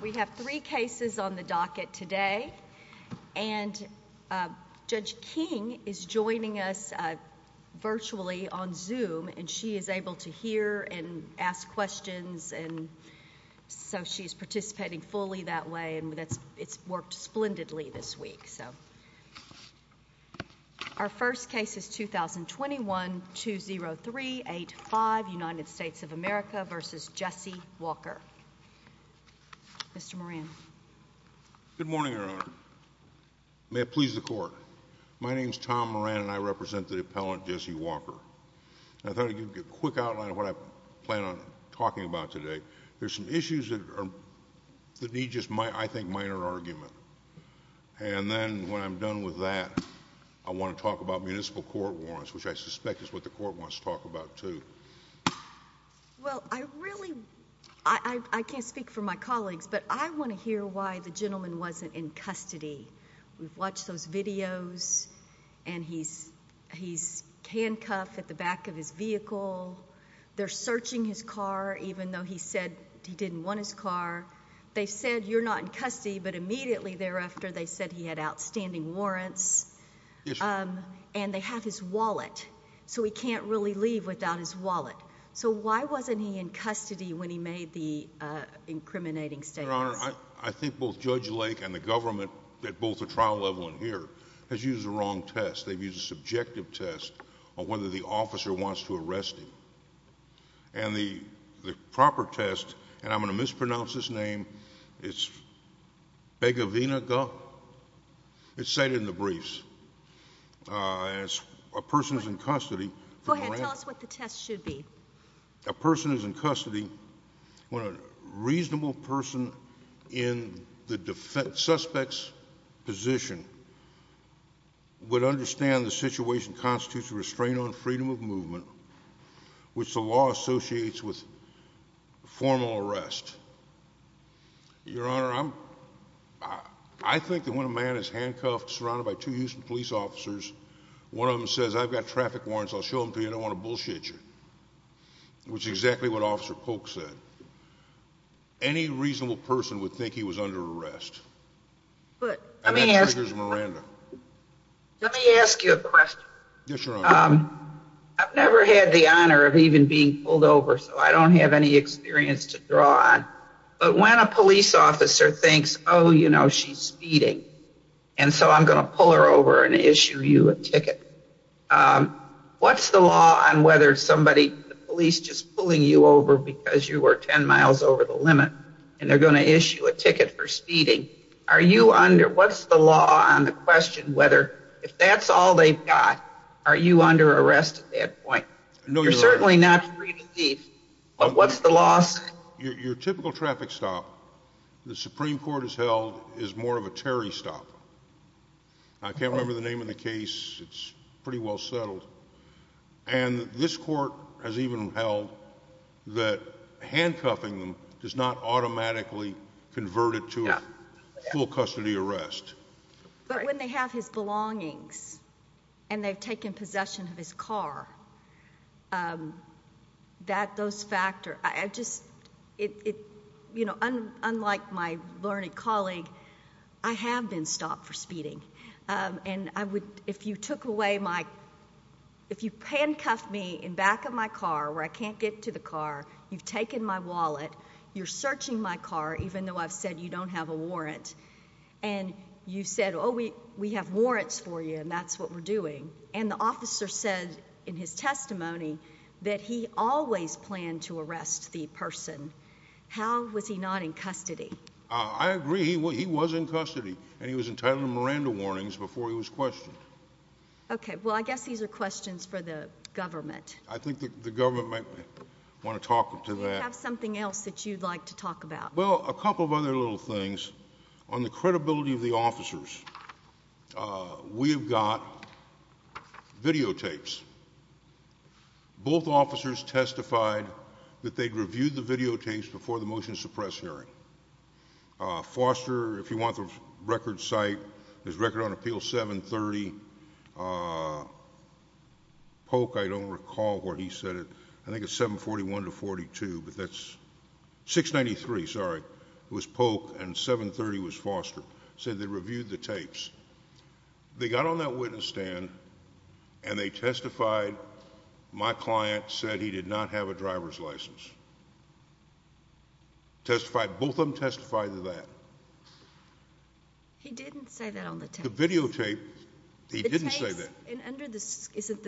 We have three cases on the docket today and Judge King is joining us virtually on Zoom and she is able to hear and ask questions and so she's participating fully that way and that's it's worked splendidly this week. Our first case is 2021-20385 United States of America v. Jesse Walker. Mr. Moran. Good morning Your Honor. May it please the court. My name is Tom Moran and I represent the appellant Jesse Walker. I thought I'd give you a quick outline of what I plan on talking about today. There's some issues that need just I think minor argument and then when I'm done with that I want to talk about municipal court warrants which I suspect is what the court wants to talk about too. Well I really I can't speak for my colleagues but I want to hear why the gentleman wasn't in custody. We've watched those videos and he's he's handcuffed at the back of his vehicle. They're searching his car even though he said he didn't want his car. They said you're not in custody but immediately thereafter they said he had outstanding warrants and they have his wallet so he can't really leave without his wallet. So why wasn't he in custody when he made the incriminating statement? Your Honor, I think both Judge Lake and the government at both the trial level and here has used the wrong test. They've used a subjective test on whether the officer wants to arrest him. And the proper test and I'm going to mispronounce his name. It's Begovina. It's said in the briefs as a person is in custody. Go ahead. Tell us what the test should be. A person is in custody when a reasonable person in the suspect's position would understand the situation constitutes a restraint on freedom of movement which the law associates with formal arrest. Your Honor, I think that when a man is handcuffed surrounded by two Houston police officers, one of them says I've got traffic warrants. I'll show them to you. I don't want to bullshit you. Which is exactly what Officer Polk said. Any reasonable person would think he was under arrest. And that triggers Miranda. Let me ask you a question. Yes, Your Honor. I've never had the honor of even being pulled over so I don't have any experience to draw on. But when a police officer thinks oh, you know, she's speeding and so I'm going to pull her over and issue you a ticket. What's the law on whether somebody, the police just pulling you over because you were ten miles over the limit and they're going to issue a ticket for speeding. Are you under, what's the law on the question whether if that's all they've got, are you under arrest at that point? No, Your Honor. You're certainly not free to leave. But what's the law say? Your typical traffic stop the Supreme Court has held is more of a Terry stop. I can't remember the name of the case. It's pretty well settled. And this court has even held that handcuffing them does not automatically convert it to a full custody arrest. But when they have his belongings and they've taken possession of his car, that does factor. I just, you know, unlike my learned colleague, I have been stopped for speeding. And I would, if you took away my, if you handcuffed me in back of my car where I can't get to the car, you've taken my wallet, you're searching my car even though I've said you don't have a warrant. And you said, oh, we have warrants for you, and that's what we're doing. And the officer said in his testimony that he always planned to arrest the person. How was he not in custody? I agree. He was in custody. And he was entitled to Miranda warnings before he was questioned. Okay. Well, I guess these are questions for the government. I think the government might want to talk to that. Do you have something else that you'd like to talk about? Well, a couple of other little things. On the credibility of the officers, we have got videotapes. Both officers testified that they'd reviewed the videotapes before the motion to suppress hearing. Foster, if you want the record site, his record on appeal 730. Polk, I don't recall where he said it. I think it's 741 to 42, but that's 693, sorry. It was Polk, and 730 was Foster. Said they reviewed the tapes. They got on that witness stand, and they testified my client said he did not have a driver's license. Testified, both of them testified to that. He didn't say that on the tapes. The videotape, he didn't say that. Under the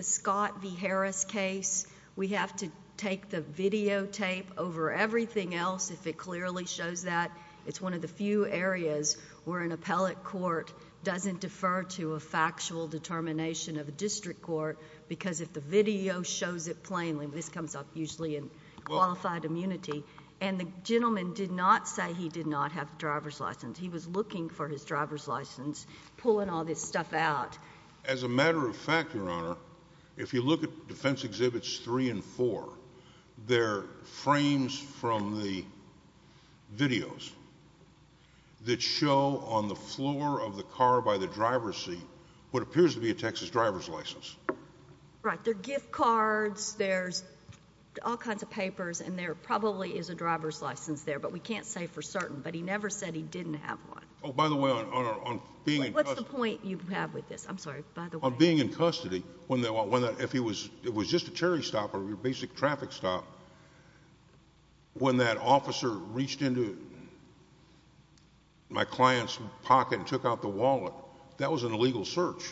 Scott v. Harris case, we have to take the videotape over everything else if it clearly shows that. It's one of the few areas where an appellate court doesn't defer to a factual determination of a district court because if the video shows it plainly, this comes up usually in qualified immunity, and the gentleman did not say he did not have a driver's license. He was looking for his driver's license, pulling all this stuff out. As a matter of fact, Your Honor, if you look at Defense Exhibits 3 and 4, there are frames from the videos that show on the floor of the car by the driver's seat what appears to be a Texas driver's license. Right. There are gift cards. There's all kinds of papers, and there probably is a driver's license there, but we can't say for certain. But he never said he didn't have one. Oh, by the way, on being in custody. What's the point you have with this? I'm sorry. By the way. On being in custody, if it was just a cherry stop or a basic traffic stop, when that officer reached into my client's pocket and took out the wallet, that was an illegal search.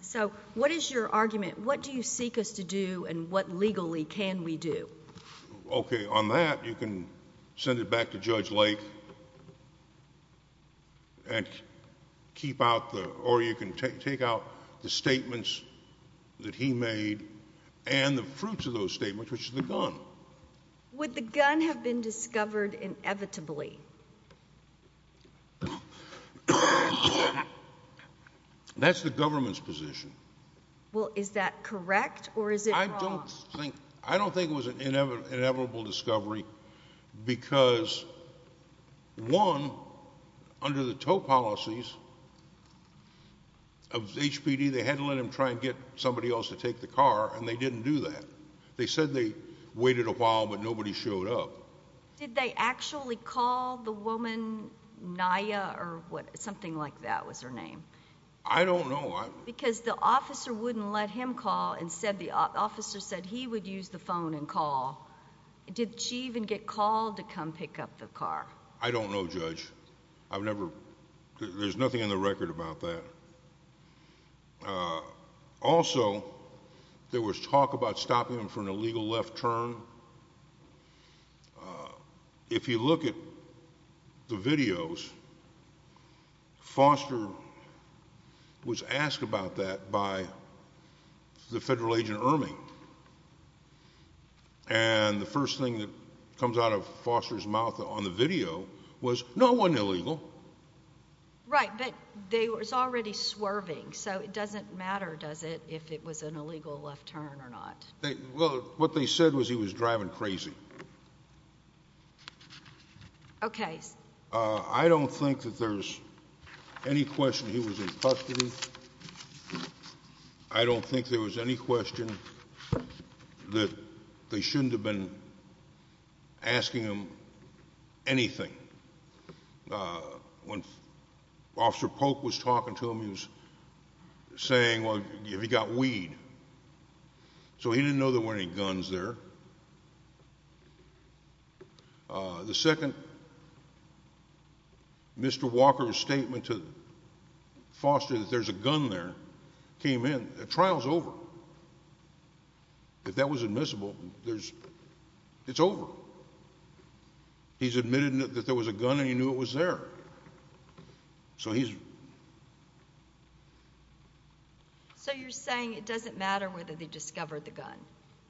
So what is your argument? What do you seek us to do, and what legally can we do? Okay, on that, you can send it back to Judge Lake and keep out the— or you can take out the statements that he made and the fruits of those statements, which is the gun. Would the gun have been discovered inevitably? That's the government's position. Well, is that correct, or is it wrong? I don't think it was an inevitable discovery because, one, under the tow policies of HPD, they had to let him try and get somebody else to take the car, and they didn't do that. They said they waited a while, but nobody showed up. Did they actually call the woman Naya or something like that was her name? I don't know. Because the officer wouldn't let him call and said—the officer said he would use the phone and call. Did she even get called to come pick up the car? I don't know, Judge. I've never—there's nothing in the record about that. Also, there was talk about stopping him for an illegal left turn. If you look at the videos, Foster was asked about that by the federal agent, Ermey, and the first thing that comes out of Foster's mouth on the video was, no, it wasn't illegal. Right, but they were already swerving, so it doesn't matter, does it, if it was an illegal left turn or not. Well, what they said was he was driving crazy. Okay. I don't think that there's any question he was in custody. I don't think there was any question that they shouldn't have been asking him anything. When Officer Polk was talking to him, he was saying, well, have you got weed? So he didn't know there were any guns there. The second, Mr. Walker's statement to Foster that there's a gun there came in. The trial's over. If that was admissible, it's over. He's admitted that there was a gun and he knew it was there. So he's— So you're saying it doesn't matter whether they discovered the gun.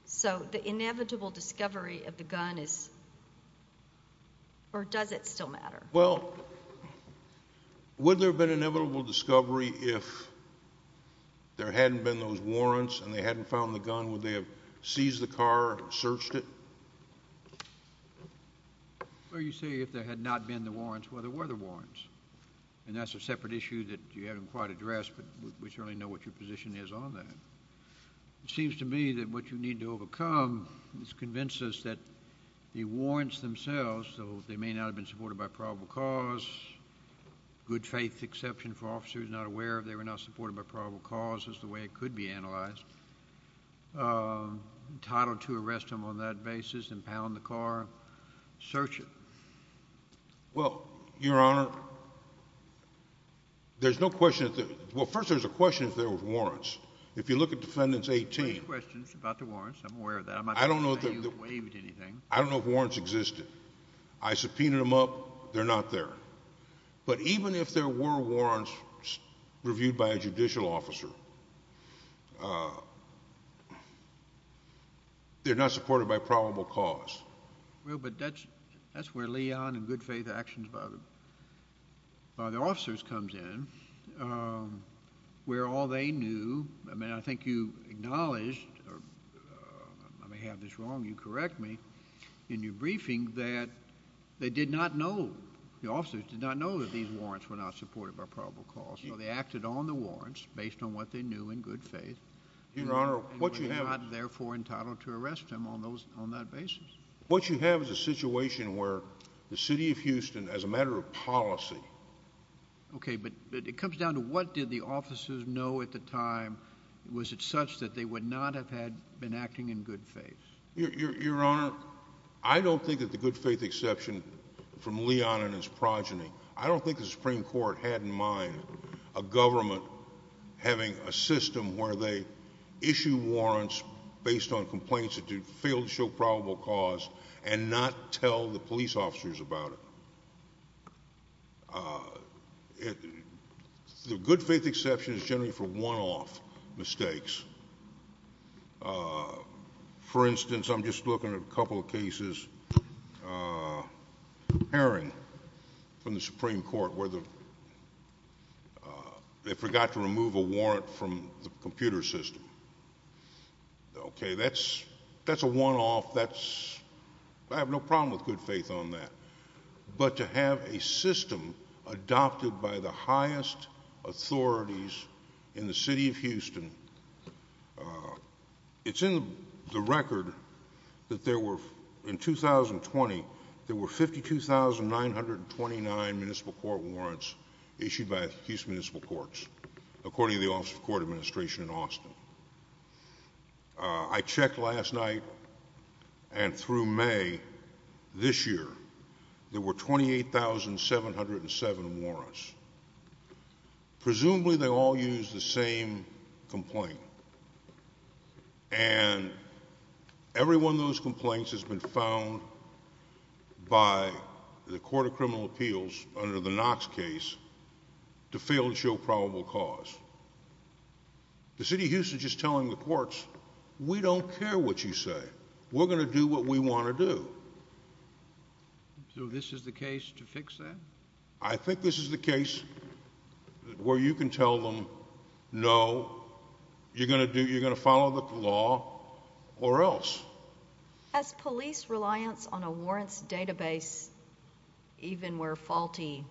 So the inevitable discovery of the gun is—or does it still matter? Well, would there have been inevitable discovery if there hadn't been those warrants and they hadn't found the gun? Would they have seized the car and searched it? Well, you say if there had not been the warrants, well, there were the warrants. And that's a separate issue that you haven't quite addressed, but we certainly know what your position is on that. It seems to me that what you need to overcome is convince us that the warrants themselves, though they may not have been supported by probable cause, good faith exception for officers not aware of that they were not supported by probable cause is the way it could be analyzed, entitled to arrest them on that basis, impound the car, search it. Well, Your Honor, there's no question—well, first there's a question if there were warrants. If you look at Defendants 18— There are questions about the warrants. I'm aware of that. I don't know if— I'm not saying you waived anything. I don't know if warrants existed. I subpoenaed them up. They're not there. But even if there were warrants reviewed by a judicial officer, they're not supported by probable cause. Well, but that's where Leon and good faith actions by the officers comes in, where all they knew— I mean, I think you acknowledged—I may have this wrong, you correct me— the officers did not know that these warrants were not supported by probable cause, so they acted on the warrants based on what they knew in good faith— Your Honor, what you have— —and were not, therefore, entitled to arrest them on that basis. What you have is a situation where the city of Houston, as a matter of policy— Okay, but it comes down to what did the officers know at the time? Was it such that they would not have been acting in good faith? Your Honor, I don't think that the good faith exception from Leon and his progeny— I don't think the Supreme Court had in mind a government having a system where they issue warrants based on complaints that fail to show probable cause and not tell the police officers about it. The good faith exception is generally for one-off mistakes. For instance, I'm just looking at a couple of cases— Aaron, from the Supreme Court, where they forgot to remove a warrant from the computer system. Okay, that's a one-off. I have no problem with good faith on that. But to have a system adopted by the highest authorities in the city of Houston— It's in the record that there were, in 2020, there were 52,929 municipal court warrants issued by Houston Municipal Courts, according to the Office of Court Administration in Austin. I checked last night and through May this year. There were 28,707 warrants. Presumably they all used the same complaint. And every one of those complaints has been found by the Court of Criminal Appeals, under the Knox case, to fail to show probable cause. The city of Houston is just telling the courts, we don't care what you say. We're going to do what we want to do. So this is the case to fix that? I think this is the case where you can tell them, no, you're going to follow the law or else. Has police reliance on a warrants database, even where faulty,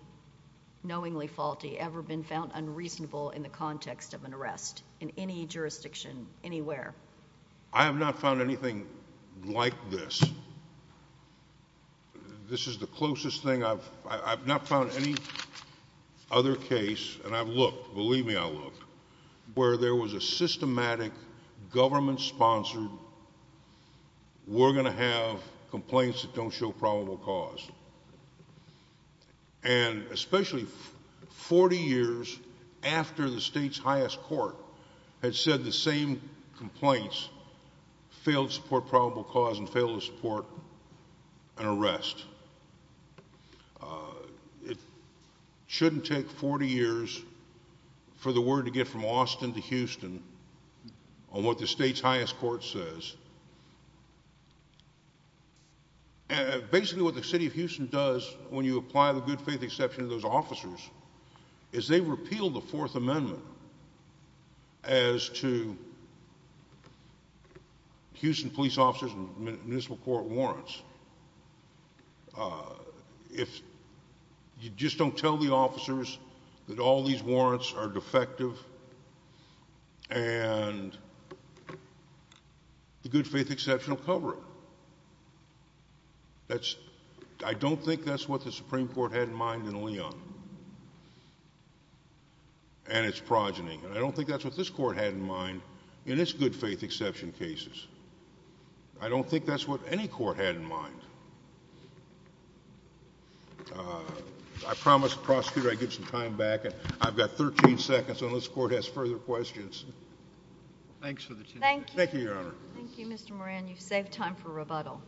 knowingly faulty, ever been found unreasonable in the context of an arrest in any jurisdiction, anywhere? I have not found anything like this. This is the closest thing I've—I've not found any other case, and I've looked, believe me, I've looked, where there was a systematic, government-sponsored, we're going to have complaints that don't show probable cause. And especially 40 years after the state's highest court had said the same complaints, failed to support probable cause and failed to support an arrest. It shouldn't take 40 years for the word to get from Austin to Houston on what the state's highest court says. And basically what the city of Houston does when you apply the good faith exception to those officers is they repeal the Fourth Amendment as to Houston police officers and municipal court warrants. If you just don't tell the officers that all these warrants are defective and the good faith exception will cover it. That's—I don't think that's what the Supreme Court had in mind in Leon and its progeny. I don't think that's what this Court had in mind in its good faith exception cases. I don't think that's what any Court had in mind. I promised the prosecutor I'd give some time back. I've got 13 seconds unless the Court has further questions. Thank you, Your Honor. Thank you, Mr. Moran. You've saved time for rebuttal.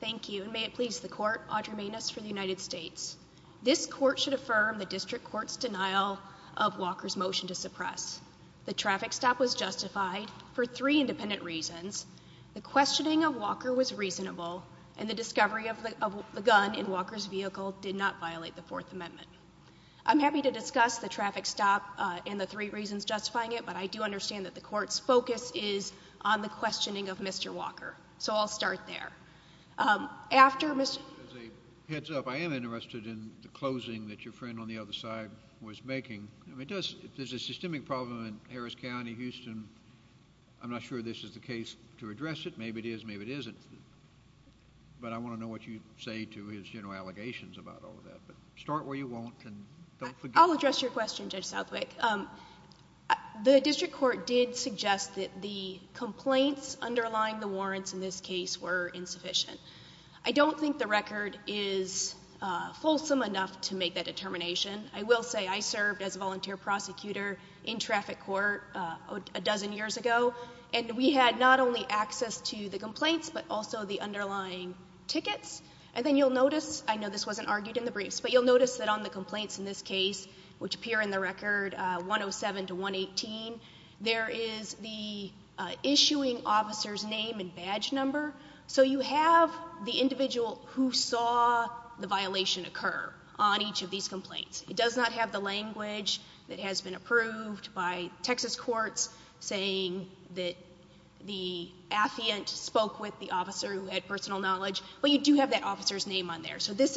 Thank you, and may it please the Court. Audra Maness for the United States. This Court should affirm the district court's denial of Walker's motion to suppress. The traffic stop was justified for three independent reasons. The questioning of Walker was reasonable, and the discovery of the gun in Walker's vehicle did not violate the Fourth Amendment. I'm happy to discuss the traffic stop and the three reasons justifying it, but I do understand that the Court's focus is on the questioning of Mr. Walker. So I'll start there. As a heads up, I am interested in the closing that your friend on the other side was making. There's a systemic problem in Harris County, Houston. I'm not sure this is the case to address it. Maybe it is, maybe it isn't. But I want to know what you say to his general allegations about all of that. Start where you want and don't forget. I'll address your question, Judge Southwick. The district court did suggest that the complaints underlying the warrants in this case were insufficient. I don't think the record is fulsome enough to make that determination. I will say I served as a volunteer prosecutor in traffic court a dozen years ago, and we had not only access to the complaints but also the underlying tickets. And then you'll notice, I know this wasn't argued in the briefs, but you'll notice that on the complaints in this case, which appear in the record 107 to 118, there is the issuing officer's name and badge number. So you have the individual who saw the violation occur on each of these complaints. It does not have the language that has been approved by Texas courts, saying that the affiant spoke with the officer who had personal knowledge. But you do have that officer's name on there. So this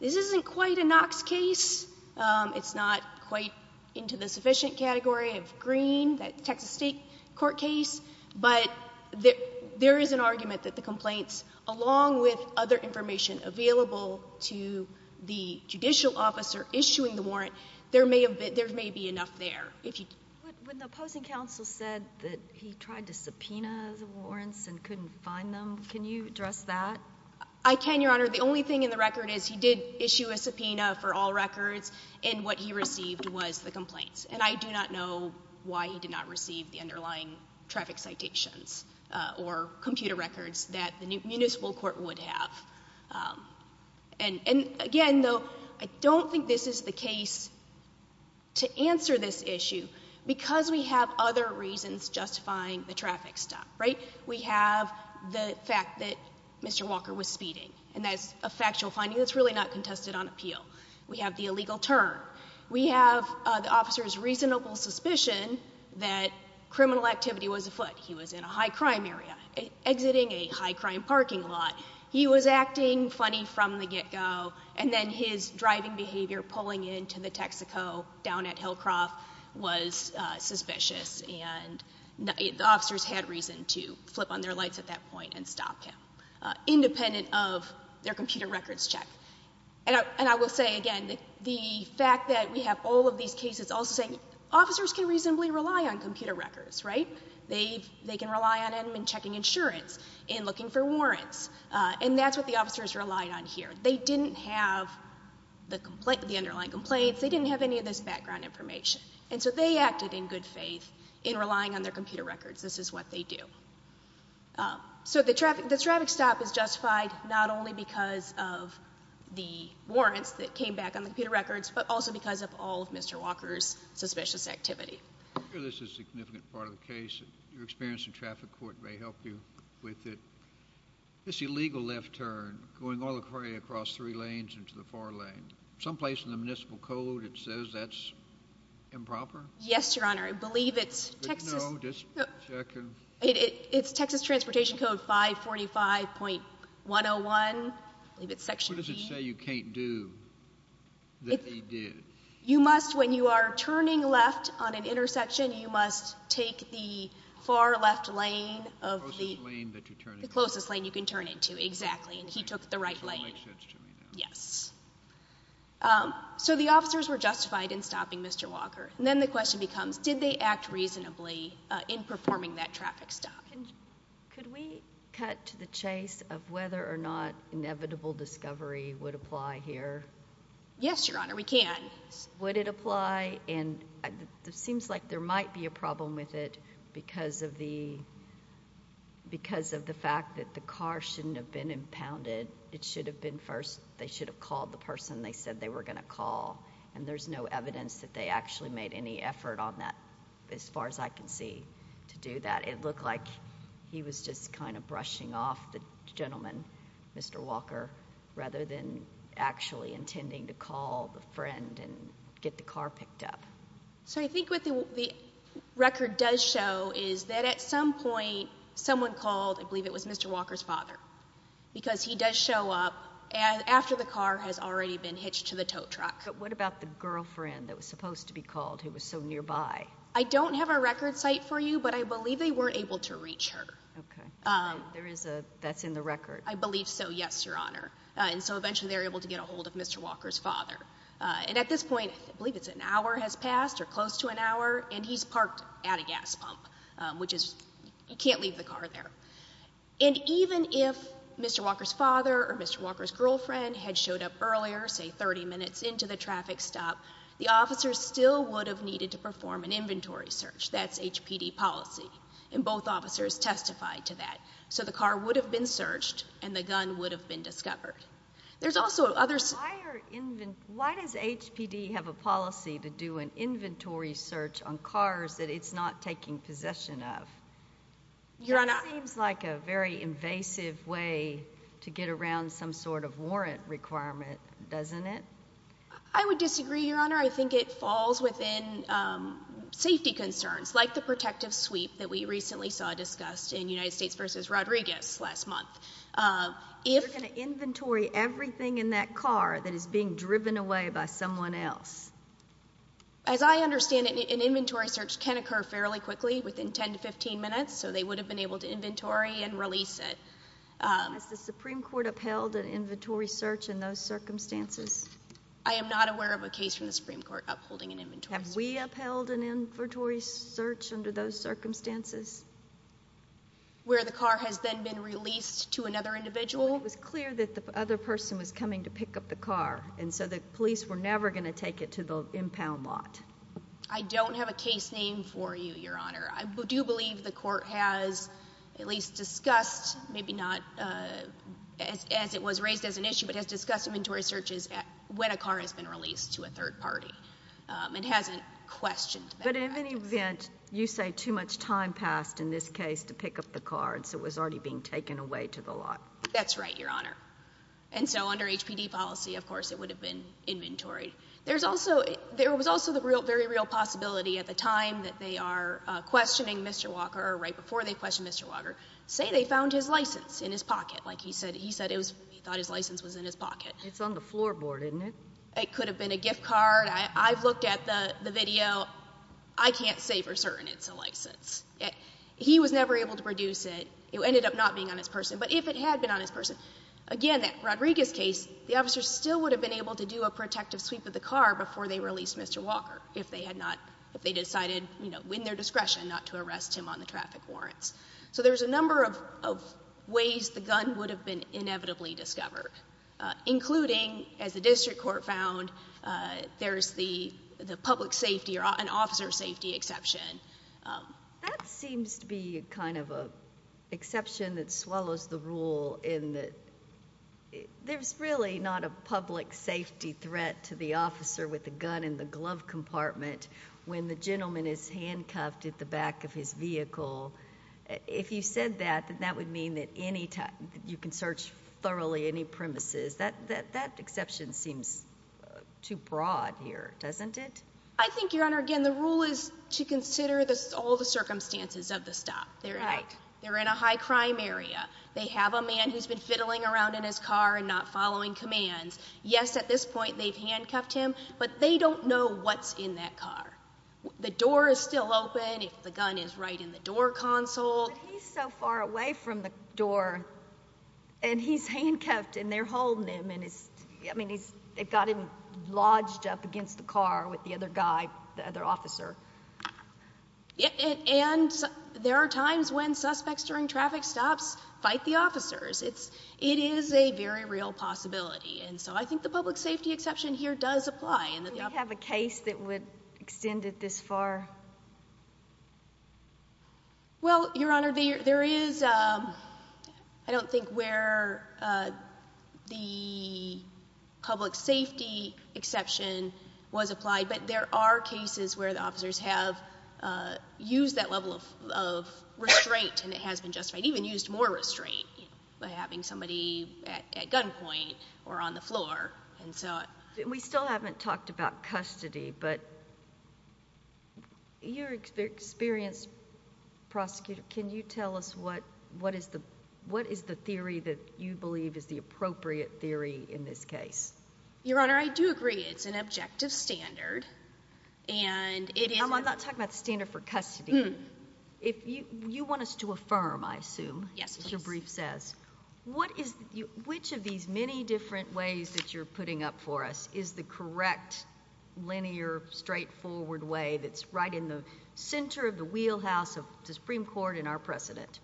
isn't quite a Knox case. It's not quite into the sufficient category of green, that Texas state court case. But there is an argument that the complaints, along with other information available to the judicial officer issuing the warrant, there may be enough there. When the opposing counsel said that he tried to subpoena the warrants and couldn't find them, can you address that? I can, Your Honor. The only thing in the record is he did issue a subpoena for all records, and what he received was the complaints. And I do not know why he did not receive the underlying traffic citations or computer records that the municipal court would have. And again, though, I don't think this is the case to answer this issue because we have other reasons justifying the traffic stop, right? We have the fact that Mr. Walker was speeding, and that's a factual finding that's really not contested on appeal. We have the illegal turn. We have the officer's reasonable suspicion that criminal activity was afoot. He was in a high-crime area, exiting a high-crime parking lot. He was acting funny from the get-go, and then his driving behavior, pulling into the Texaco down at Hillcroft, was suspicious, and the officers had reason to flip on their lights at that point and stop him, independent of their computer records check. And I will say, again, the fact that we have all of these cases also saying officers can reasonably rely on computer records, right? They can rely on them in checking insurance, in looking for warrants, and that's what the officers relied on here. They didn't have the underlying complaints. They didn't have any of this background information, and so they acted in good faith in relying on their computer records. This is what they do. So the traffic stop is justified not only because of the warrants that came back on the computer records, but also because of all of Mr. Walker's suspicious activity. I'm sure this is a significant part of the case. Your experience in traffic court may help you with it. This illegal left turn going all the way across three lanes into the far lane, someplace in the municipal code it says that's improper? Yes, Your Honor. I believe it's Texas. It's Texas Transportation Code 545.101. I believe it's Section E. What does it say you can't do that he did? You must, when you are turning left on an intersection, you must take the far left lane of the closest lane you can turn into. Exactly, and he took the right lane. Yes. So the officers were justified in stopping Mr. Walker. Then the question becomes, did they act reasonably in performing that traffic stop? Could we cut to the chase of whether or not inevitable discovery would apply here? Yes, Your Honor, we can. Would it apply? It seems like there might be a problem with it because of the fact that the car shouldn't have been impounded. It should have been first they should have called the person they said they were going to call, and there's no evidence that they actually made any effort on that as far as I can see to do that. It looked like he was just kind of brushing off the gentleman, Mr. Walker, rather than actually intending to call the friend and get the car picked up. So I think what the record does show is that at some point someone called, I believe it was Mr. Walker's father, because he does show up after the car has already been hitched to the tow truck. But what about the girlfriend that was supposed to be called who was so nearby? I don't have a record site for you, but I believe they weren't able to reach her. Okay. That's in the record? I believe so, yes, Your Honor. And so eventually they were able to get a hold of Mr. Walker's father. And at this point, I believe it's an hour has passed or close to an hour, and he's parked at a gas pump, which is you can't leave the car there. And even if Mr. Walker's father or Mr. Walker's girlfriend had showed up earlier, say 30 minutes into the traffic stop, the officers still would have needed to perform an inventory search. That's HPD policy. And both officers testified to that. So the car would have been searched, and the gun would have been discovered. There's also others. Why does HPD have a policy to do an inventory search on cars that it's not taking possession of? It seems like a very invasive way to get around some sort of warrant requirement, doesn't it? I would disagree, Your Honor. I think it falls within safety concerns, like the protective sweep that we recently saw discussed in United States v. Rodriguez last month. You're going to inventory everything in that car that is being driven away by someone else? As I understand it, an inventory search can occur fairly quickly, within 10 to 15 minutes, so they would have been able to inventory and release it. Has the Supreme Court upheld an inventory search in those circumstances? I am not aware of a case from the Supreme Court upholding an inventory search. Have we upheld an inventory search under those circumstances? Where the car has then been released to another individual? It was clear that the other person was coming to pick up the car, and so the police were never going to take it to the impound lot. I don't have a case name for you, Your Honor. I do believe the court has at least discussed, maybe not as it was raised as an issue, but has discussed inventory searches when a car has been released to a third party. It hasn't questioned that practice. But in any event, you say too much time passed in this case to pick up the car, and so it was already being taken away to the lot. That's right, Your Honor. And so under HPD policy, of course, it would have been inventory. There was also the very real possibility at the time that they are questioning Mr. Walker or right before they questioned Mr. Walker, say they found his license in his pocket, like he said he thought his license was in his pocket. It's on the floorboard, isn't it? It could have been a gift card. I've looked at the video. I can't say for certain it's a license. He was never able to produce it. It ended up not being on his person. But if it had been on his person, again, that Rodriguez case, the officer still would have been able to do a protective sweep of the car before they released Mr. Walker if they decided in their discretion not to arrest him on the traffic warrants. So there's a number of ways the gun would have been inevitably discovered, including, as the district court found, there's the public safety or an officer safety exception. That seems to be kind of an exception that swallows the rule in that there's really not a public safety threat to the officer with a gun in the glove compartment when the gentleman is handcuffed at the back of his vehicle. If you said that, that would mean that you can search thoroughly any premises. That exception seems too broad here, doesn't it? I think, Your Honor, again, the rule is to consider all the circumstances of the stop. They're in a high-crime area. They have a man who's been fiddling around in his car and not following commands. Yes, at this point they've handcuffed him, but they don't know what's in that car. The door is still open if the gun is right in the door console. But he's so far away from the door, and he's handcuffed, and they're holding him. It got him lodged up against the car with the other guy, the other officer. And there are times when suspects during traffic stops fight the officers. It is a very real possibility, and so I think the public safety exception here does apply. Do we have a case that would extend it this far? Well, Your Honor, there is. I don't think where the public safety exception was applied, but there are cases where the officers have used that level of restraint, and it has been justified, even used more restraint by having somebody at gunpoint or on the floor. We still haven't talked about custody, but you're an experienced prosecutor. Can you tell us what is the theory that you believe is the appropriate theory in this case? Your Honor, I do agree it's an objective standard. I'm not talking about the standard for custody. You want us to affirm, I assume, as your brief says. Which of these many different ways that you're putting up for us is the correct, linear, straightforward way that's right in the center of the wheelhouse of the Supreme Court and our precedent?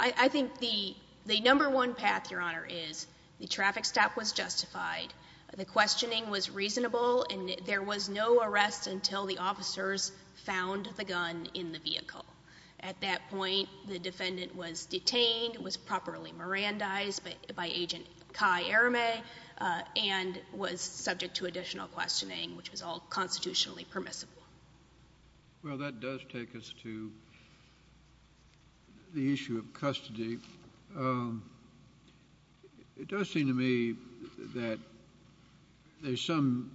I think the number one path, Your Honor, is the traffic stop was justified, the questioning was reasonable, and there was no arrest until the officers found the gun in the vehicle. At that point, the defendant was detained, was properly Mirandized by Agent Kai Arame, and was subject to additional questioning, which was all constitutionally permissible. Well, that does take us to the issue of custody. It does seem to me that there's some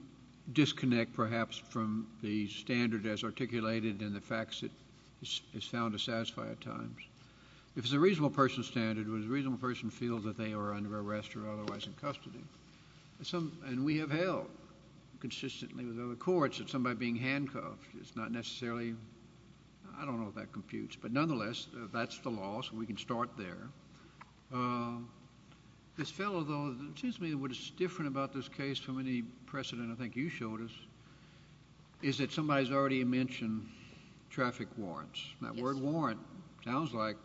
disconnect, perhaps, from the standard as articulated and the facts that is found to satisfy at times. If it's a reasonable person's standard, would a reasonable person feel that they are under arrest or otherwise in custody? And we have held, consistently with other courts, that somebody being handcuffed is not necessarily, I don't know if that computes, but nonetheless, that's the law, so we can start there. This fellow, though, it seems to me what is different about this case from any precedent I think you showed us, is that somebody has already mentioned traffic warrants. That word warrant sounds like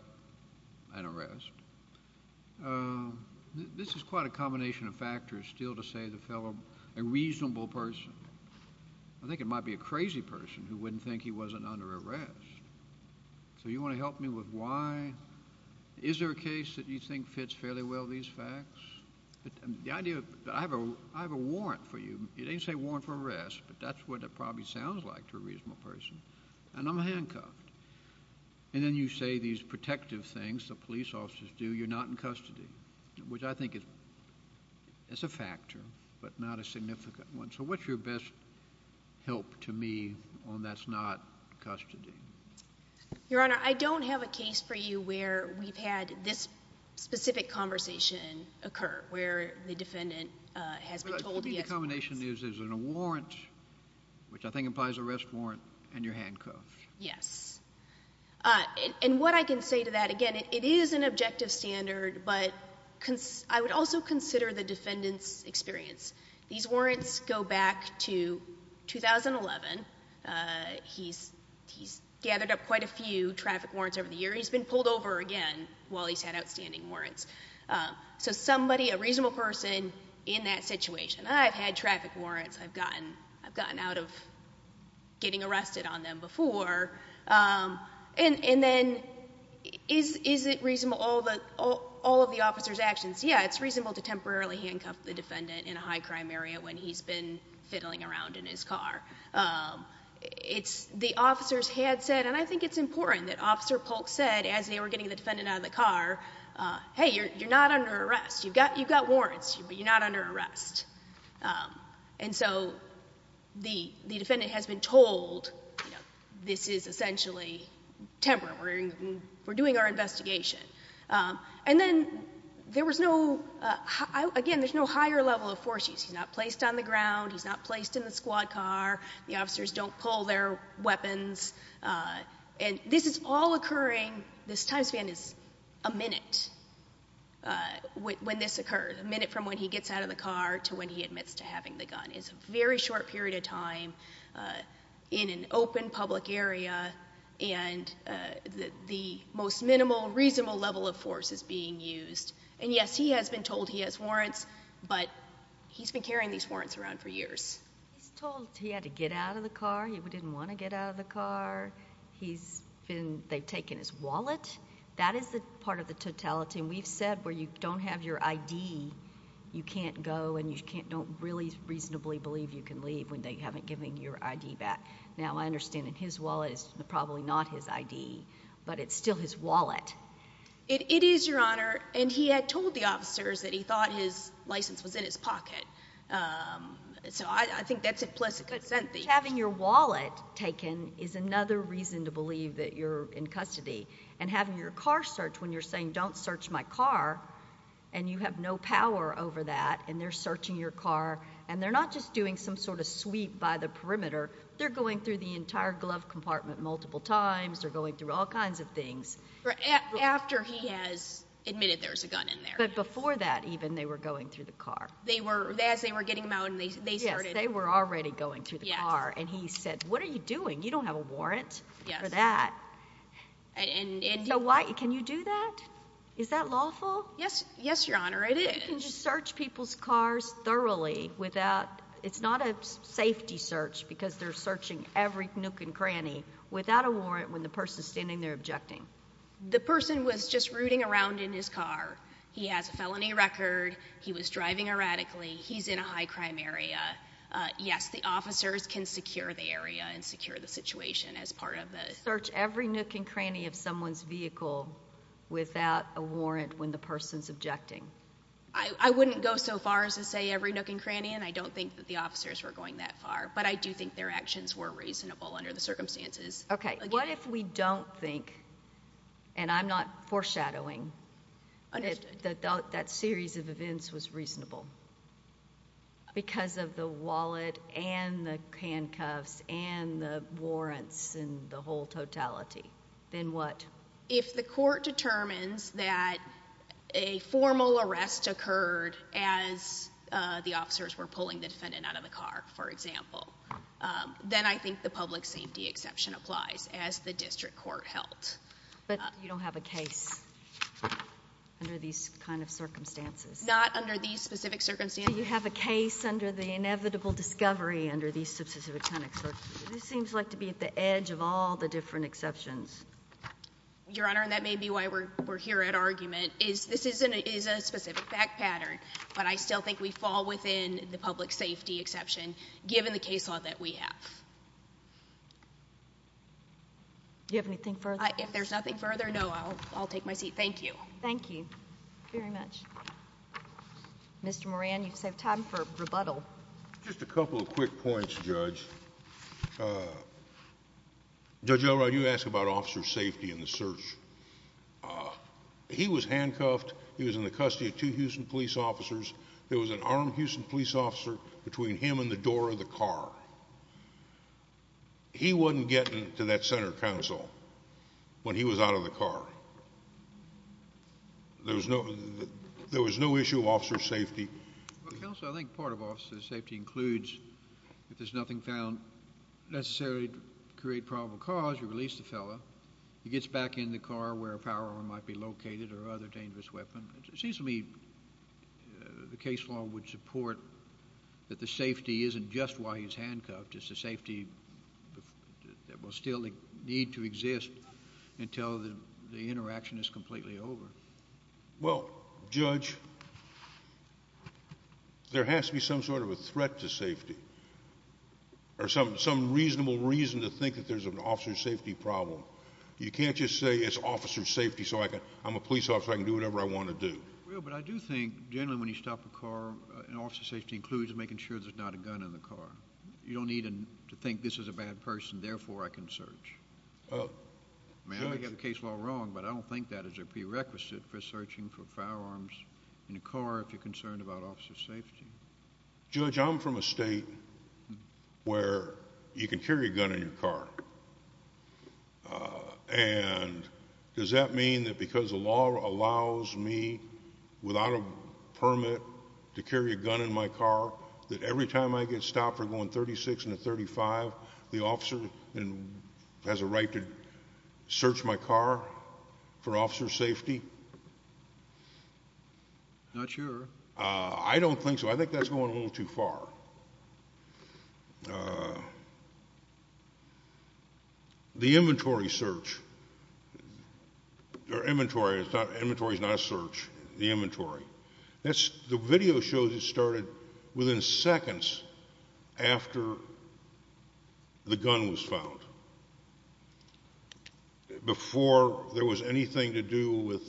an arrest. This is quite a combination of factors still to say the fellow, a reasonable person. I think it might be a crazy person who wouldn't think he wasn't under arrest. So you want to help me with why? Is there a case that you think fits fairly well these facts? I have a warrant for you. It doesn't say warrant for arrest, but that's what it probably sounds like to a reasonable person. And I'm handcuffed. And then you say these protective things the police officers do. You're not in custody, which I think is a factor, but not a significant one. So what's your best help to me on that's not custody? Your Honor, I don't have a case for you where we've had this specific conversation occur, where the defendant has been told he has to be handcuffed. But I think the combination is there's a warrant, which I think implies an arrest warrant, and you're handcuffed. Yes. And what I can say to that, again, it is an objective standard, but I would also consider the defendant's experience. These warrants go back to 2011. He's gathered up quite a few traffic warrants over the year. He's been pulled over again while he's had outstanding warrants. So somebody, a reasonable person in that situation, I've had traffic warrants. I've gotten out of getting arrested on them before. And then is it reasonable, all of the officer's actions? Yeah, it's reasonable to temporarily handcuff the defendant in a high crime area when he's been fiddling around in his car. It's the officer's headset, and I think it's important that Officer Polk said as they were getting the defendant out of the car, hey, you're not under arrest. You've got warrants, but you're not under arrest. And so the defendant has been told this is essentially temporary. We're doing our investigation. And then there was no, again, there's no higher level of force use. He's not placed on the ground. He's not placed in the squad car. The officers don't pull their weapons. And this is all occurring, this time span is a minute when this occurred, a minute from when he gets out of the car to when he admits to having the gun. It's a very short period of time in an open public area, and the most minimal, reasonable level of force is being used. And, yes, he has been told he has warrants, but he's been carrying these warrants around for years. He's told he had to get out of the car. He didn't want to get out of the car. He's been, they've taken his wallet. That is part of the totality, and we've said where you don't have your ID, you can't go and you don't really reasonably believe you can leave when they haven't given you your ID back. Now, I understand that his wallet is probably not his ID, but it's still his wallet. It is, Your Honor, and he had told the officers that he thought his license was in his pocket. So I think that's implicit consent. Having your wallet taken is another reason to believe that you're in custody. And having your car searched when you're saying, don't search my car, and you have no power over that, and they're searching your car, and they're not just doing some sort of sweep by the perimeter. They're going through the entire glove compartment multiple times. They're going through all kinds of things. After he has admitted there was a gun in there. But before that, even, they were going through the car. They were, as they were getting them out and they started. Yes, they were already going through the car, and he said, what are you doing? You don't have a warrant for that. Can you do that? Is that lawful? Yes, Your Honor, it is. You can search people's cars thoroughly without, it's not a safety search, because they're searching every nook and cranny without a warrant when the person is standing there objecting. The person was just rooting around in his car. He has a felony record. He was driving erratically. He's in a high-crime area. Yes, the officers can secure the area and secure the situation as part of the search. Search every nook and cranny of someone's vehicle without a warrant when the person is objecting. I wouldn't go so far as to say every nook and cranny, and I don't think that the officers were going that far. But I do think their actions were reasonable under the circumstances. Okay. What if we don't think, and I'm not foreshadowing, that that series of events was reasonable because of the wallet and the handcuffs and the warrants and the whole totality? Then what? If the court determines that a formal arrest occurred as the officers were pulling the defendant out of the car, for example, then I think the public safety exception applies as the district court held. But you don't have a case under these kind of circumstances? Not under these specific circumstances. So you have a case under the inevitable discovery under these specific kind of circumstances. This seems like to be at the edge of all the different exceptions. Your Honor, and that may be why we're here at argument, is this is a specific fact pattern, but I still think we fall within the public safety exception given the case law that we have. Do you have anything further? If there's nothing further, no, I'll take my seat. Thank you. Thank you very much. Mr. Moran, you save time for rebuttal. Just a couple of quick points, Judge. Judge Elrod, you asked about officer safety in the search. He was handcuffed. He was in the custody of two Houston police officers. There was an armed Houston police officer between him and the door of the car. He wasn't getting to that center counsel when he was out of the car. There was no issue of officer safety. Counsel, I think part of officer safety includes if there's nothing found necessarily to create probable cause, you release the fellow. He gets back in the car where a power arm might be located or other dangerous weapon. It seems to me the case law would support that the safety isn't just why he's handcuffed. It's the safety that will still need to exist until the interaction is completely over. Well, Judge, there has to be some sort of a threat to safety or some reasonable reason to think that there's an officer safety problem. You can't just say it's officer safety so I'm a police officer, I can do whatever I want to do. Well, but I do think generally when you stop a car, an officer safety includes making sure there's not a gun in the car. You don't need to think this is a bad person, therefore I can search. I mean, I don't think I have the case law wrong, but I don't think that is a prerequisite for searching for firearms in a car if you're concerned about officer safety. Judge, I'm from a state where you can carry a gun in your car. And does that mean that because the law allows me, without a permit, to carry a gun in my car, that every time I get stopped for going 36 into 35, the officer has a right to search my car for officer safety? Not sure. I don't think so. I think that's going a little too far. The inventory search, or inventory is not a search, the inventory, the video shows it started within seconds after the gun was found. Before there was anything to do with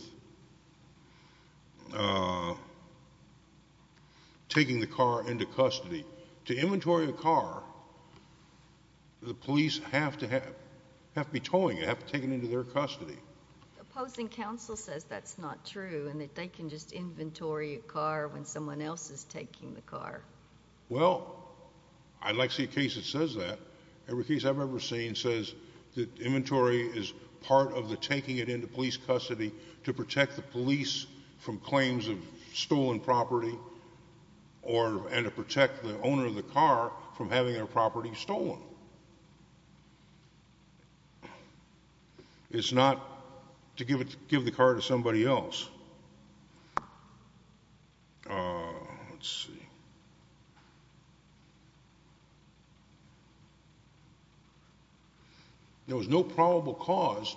taking the car into custody. To inventory a car, the police have to be towing it, have to take it into their custody. The opposing counsel says that's not true and that they can just inventory a car when someone else is taking the car. Well, I'd like to see a case that says that. Every case I've ever seen says that inventory is part of the taking it into police custody to protect the police from claims of stolen property and to protect the owner of the car from having their property stolen. It's not to give the car to somebody else. Let's see. There was no probable cause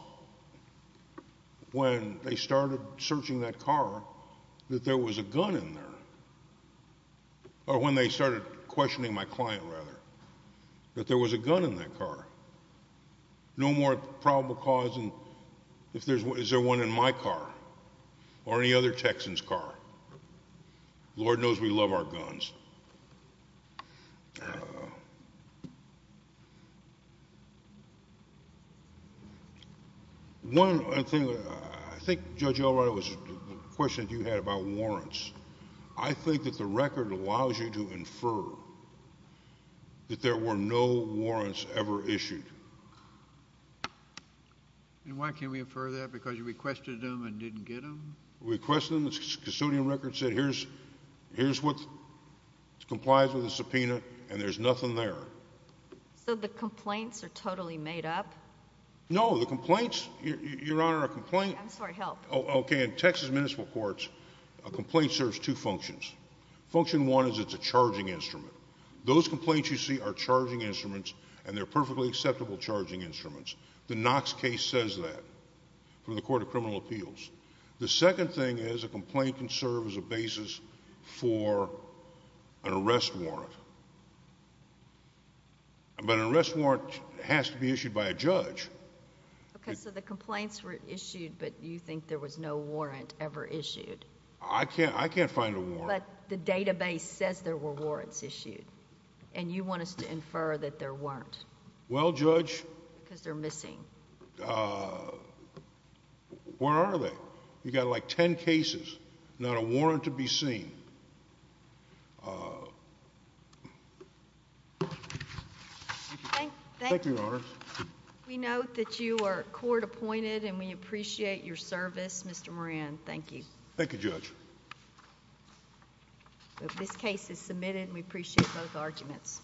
when they started searching that car that there was a gun in there. Or when they started questioning my client, rather, that there was a gun in that car. No more probable cause, and is there one in my car or any other Texans' car? Lord knows we love our guns. One thing, I think, Judge Elrodo, was the question that you had about warrants. I think that the record allows you to infer that there were no warrants ever issued. And why can't we infer that, because you requested them and didn't get them? We requested them. The custodian record said here's what complies with the subpoena, and there's nothing there. So the complaints are totally made up? No, the complaints, Your Honor, a complaint— I'm sorry, help. Okay, in Texas municipal courts, a complaint serves two functions. Function one is it's a charging instrument. Those complaints you see are charging instruments, and they're perfectly acceptable charging instruments. The Knox case says that from the Court of Criminal Appeals. The second thing is a complaint can serve as a basis for an arrest warrant. Okay, so the complaints were issued, but you think there was no warrant ever issued. I can't find a warrant. But the database says there were warrants issued, and you want us to infer that there weren't. Well, Judge— Because they're missing. Where are they? You've got like ten cases, not a warrant to be seen. Thank you, Your Honor. We note that you are court appointed, and we appreciate your service, Mr. Moran. Thank you. Thank you, Judge. This case is submitted, and we appreciate both arguments.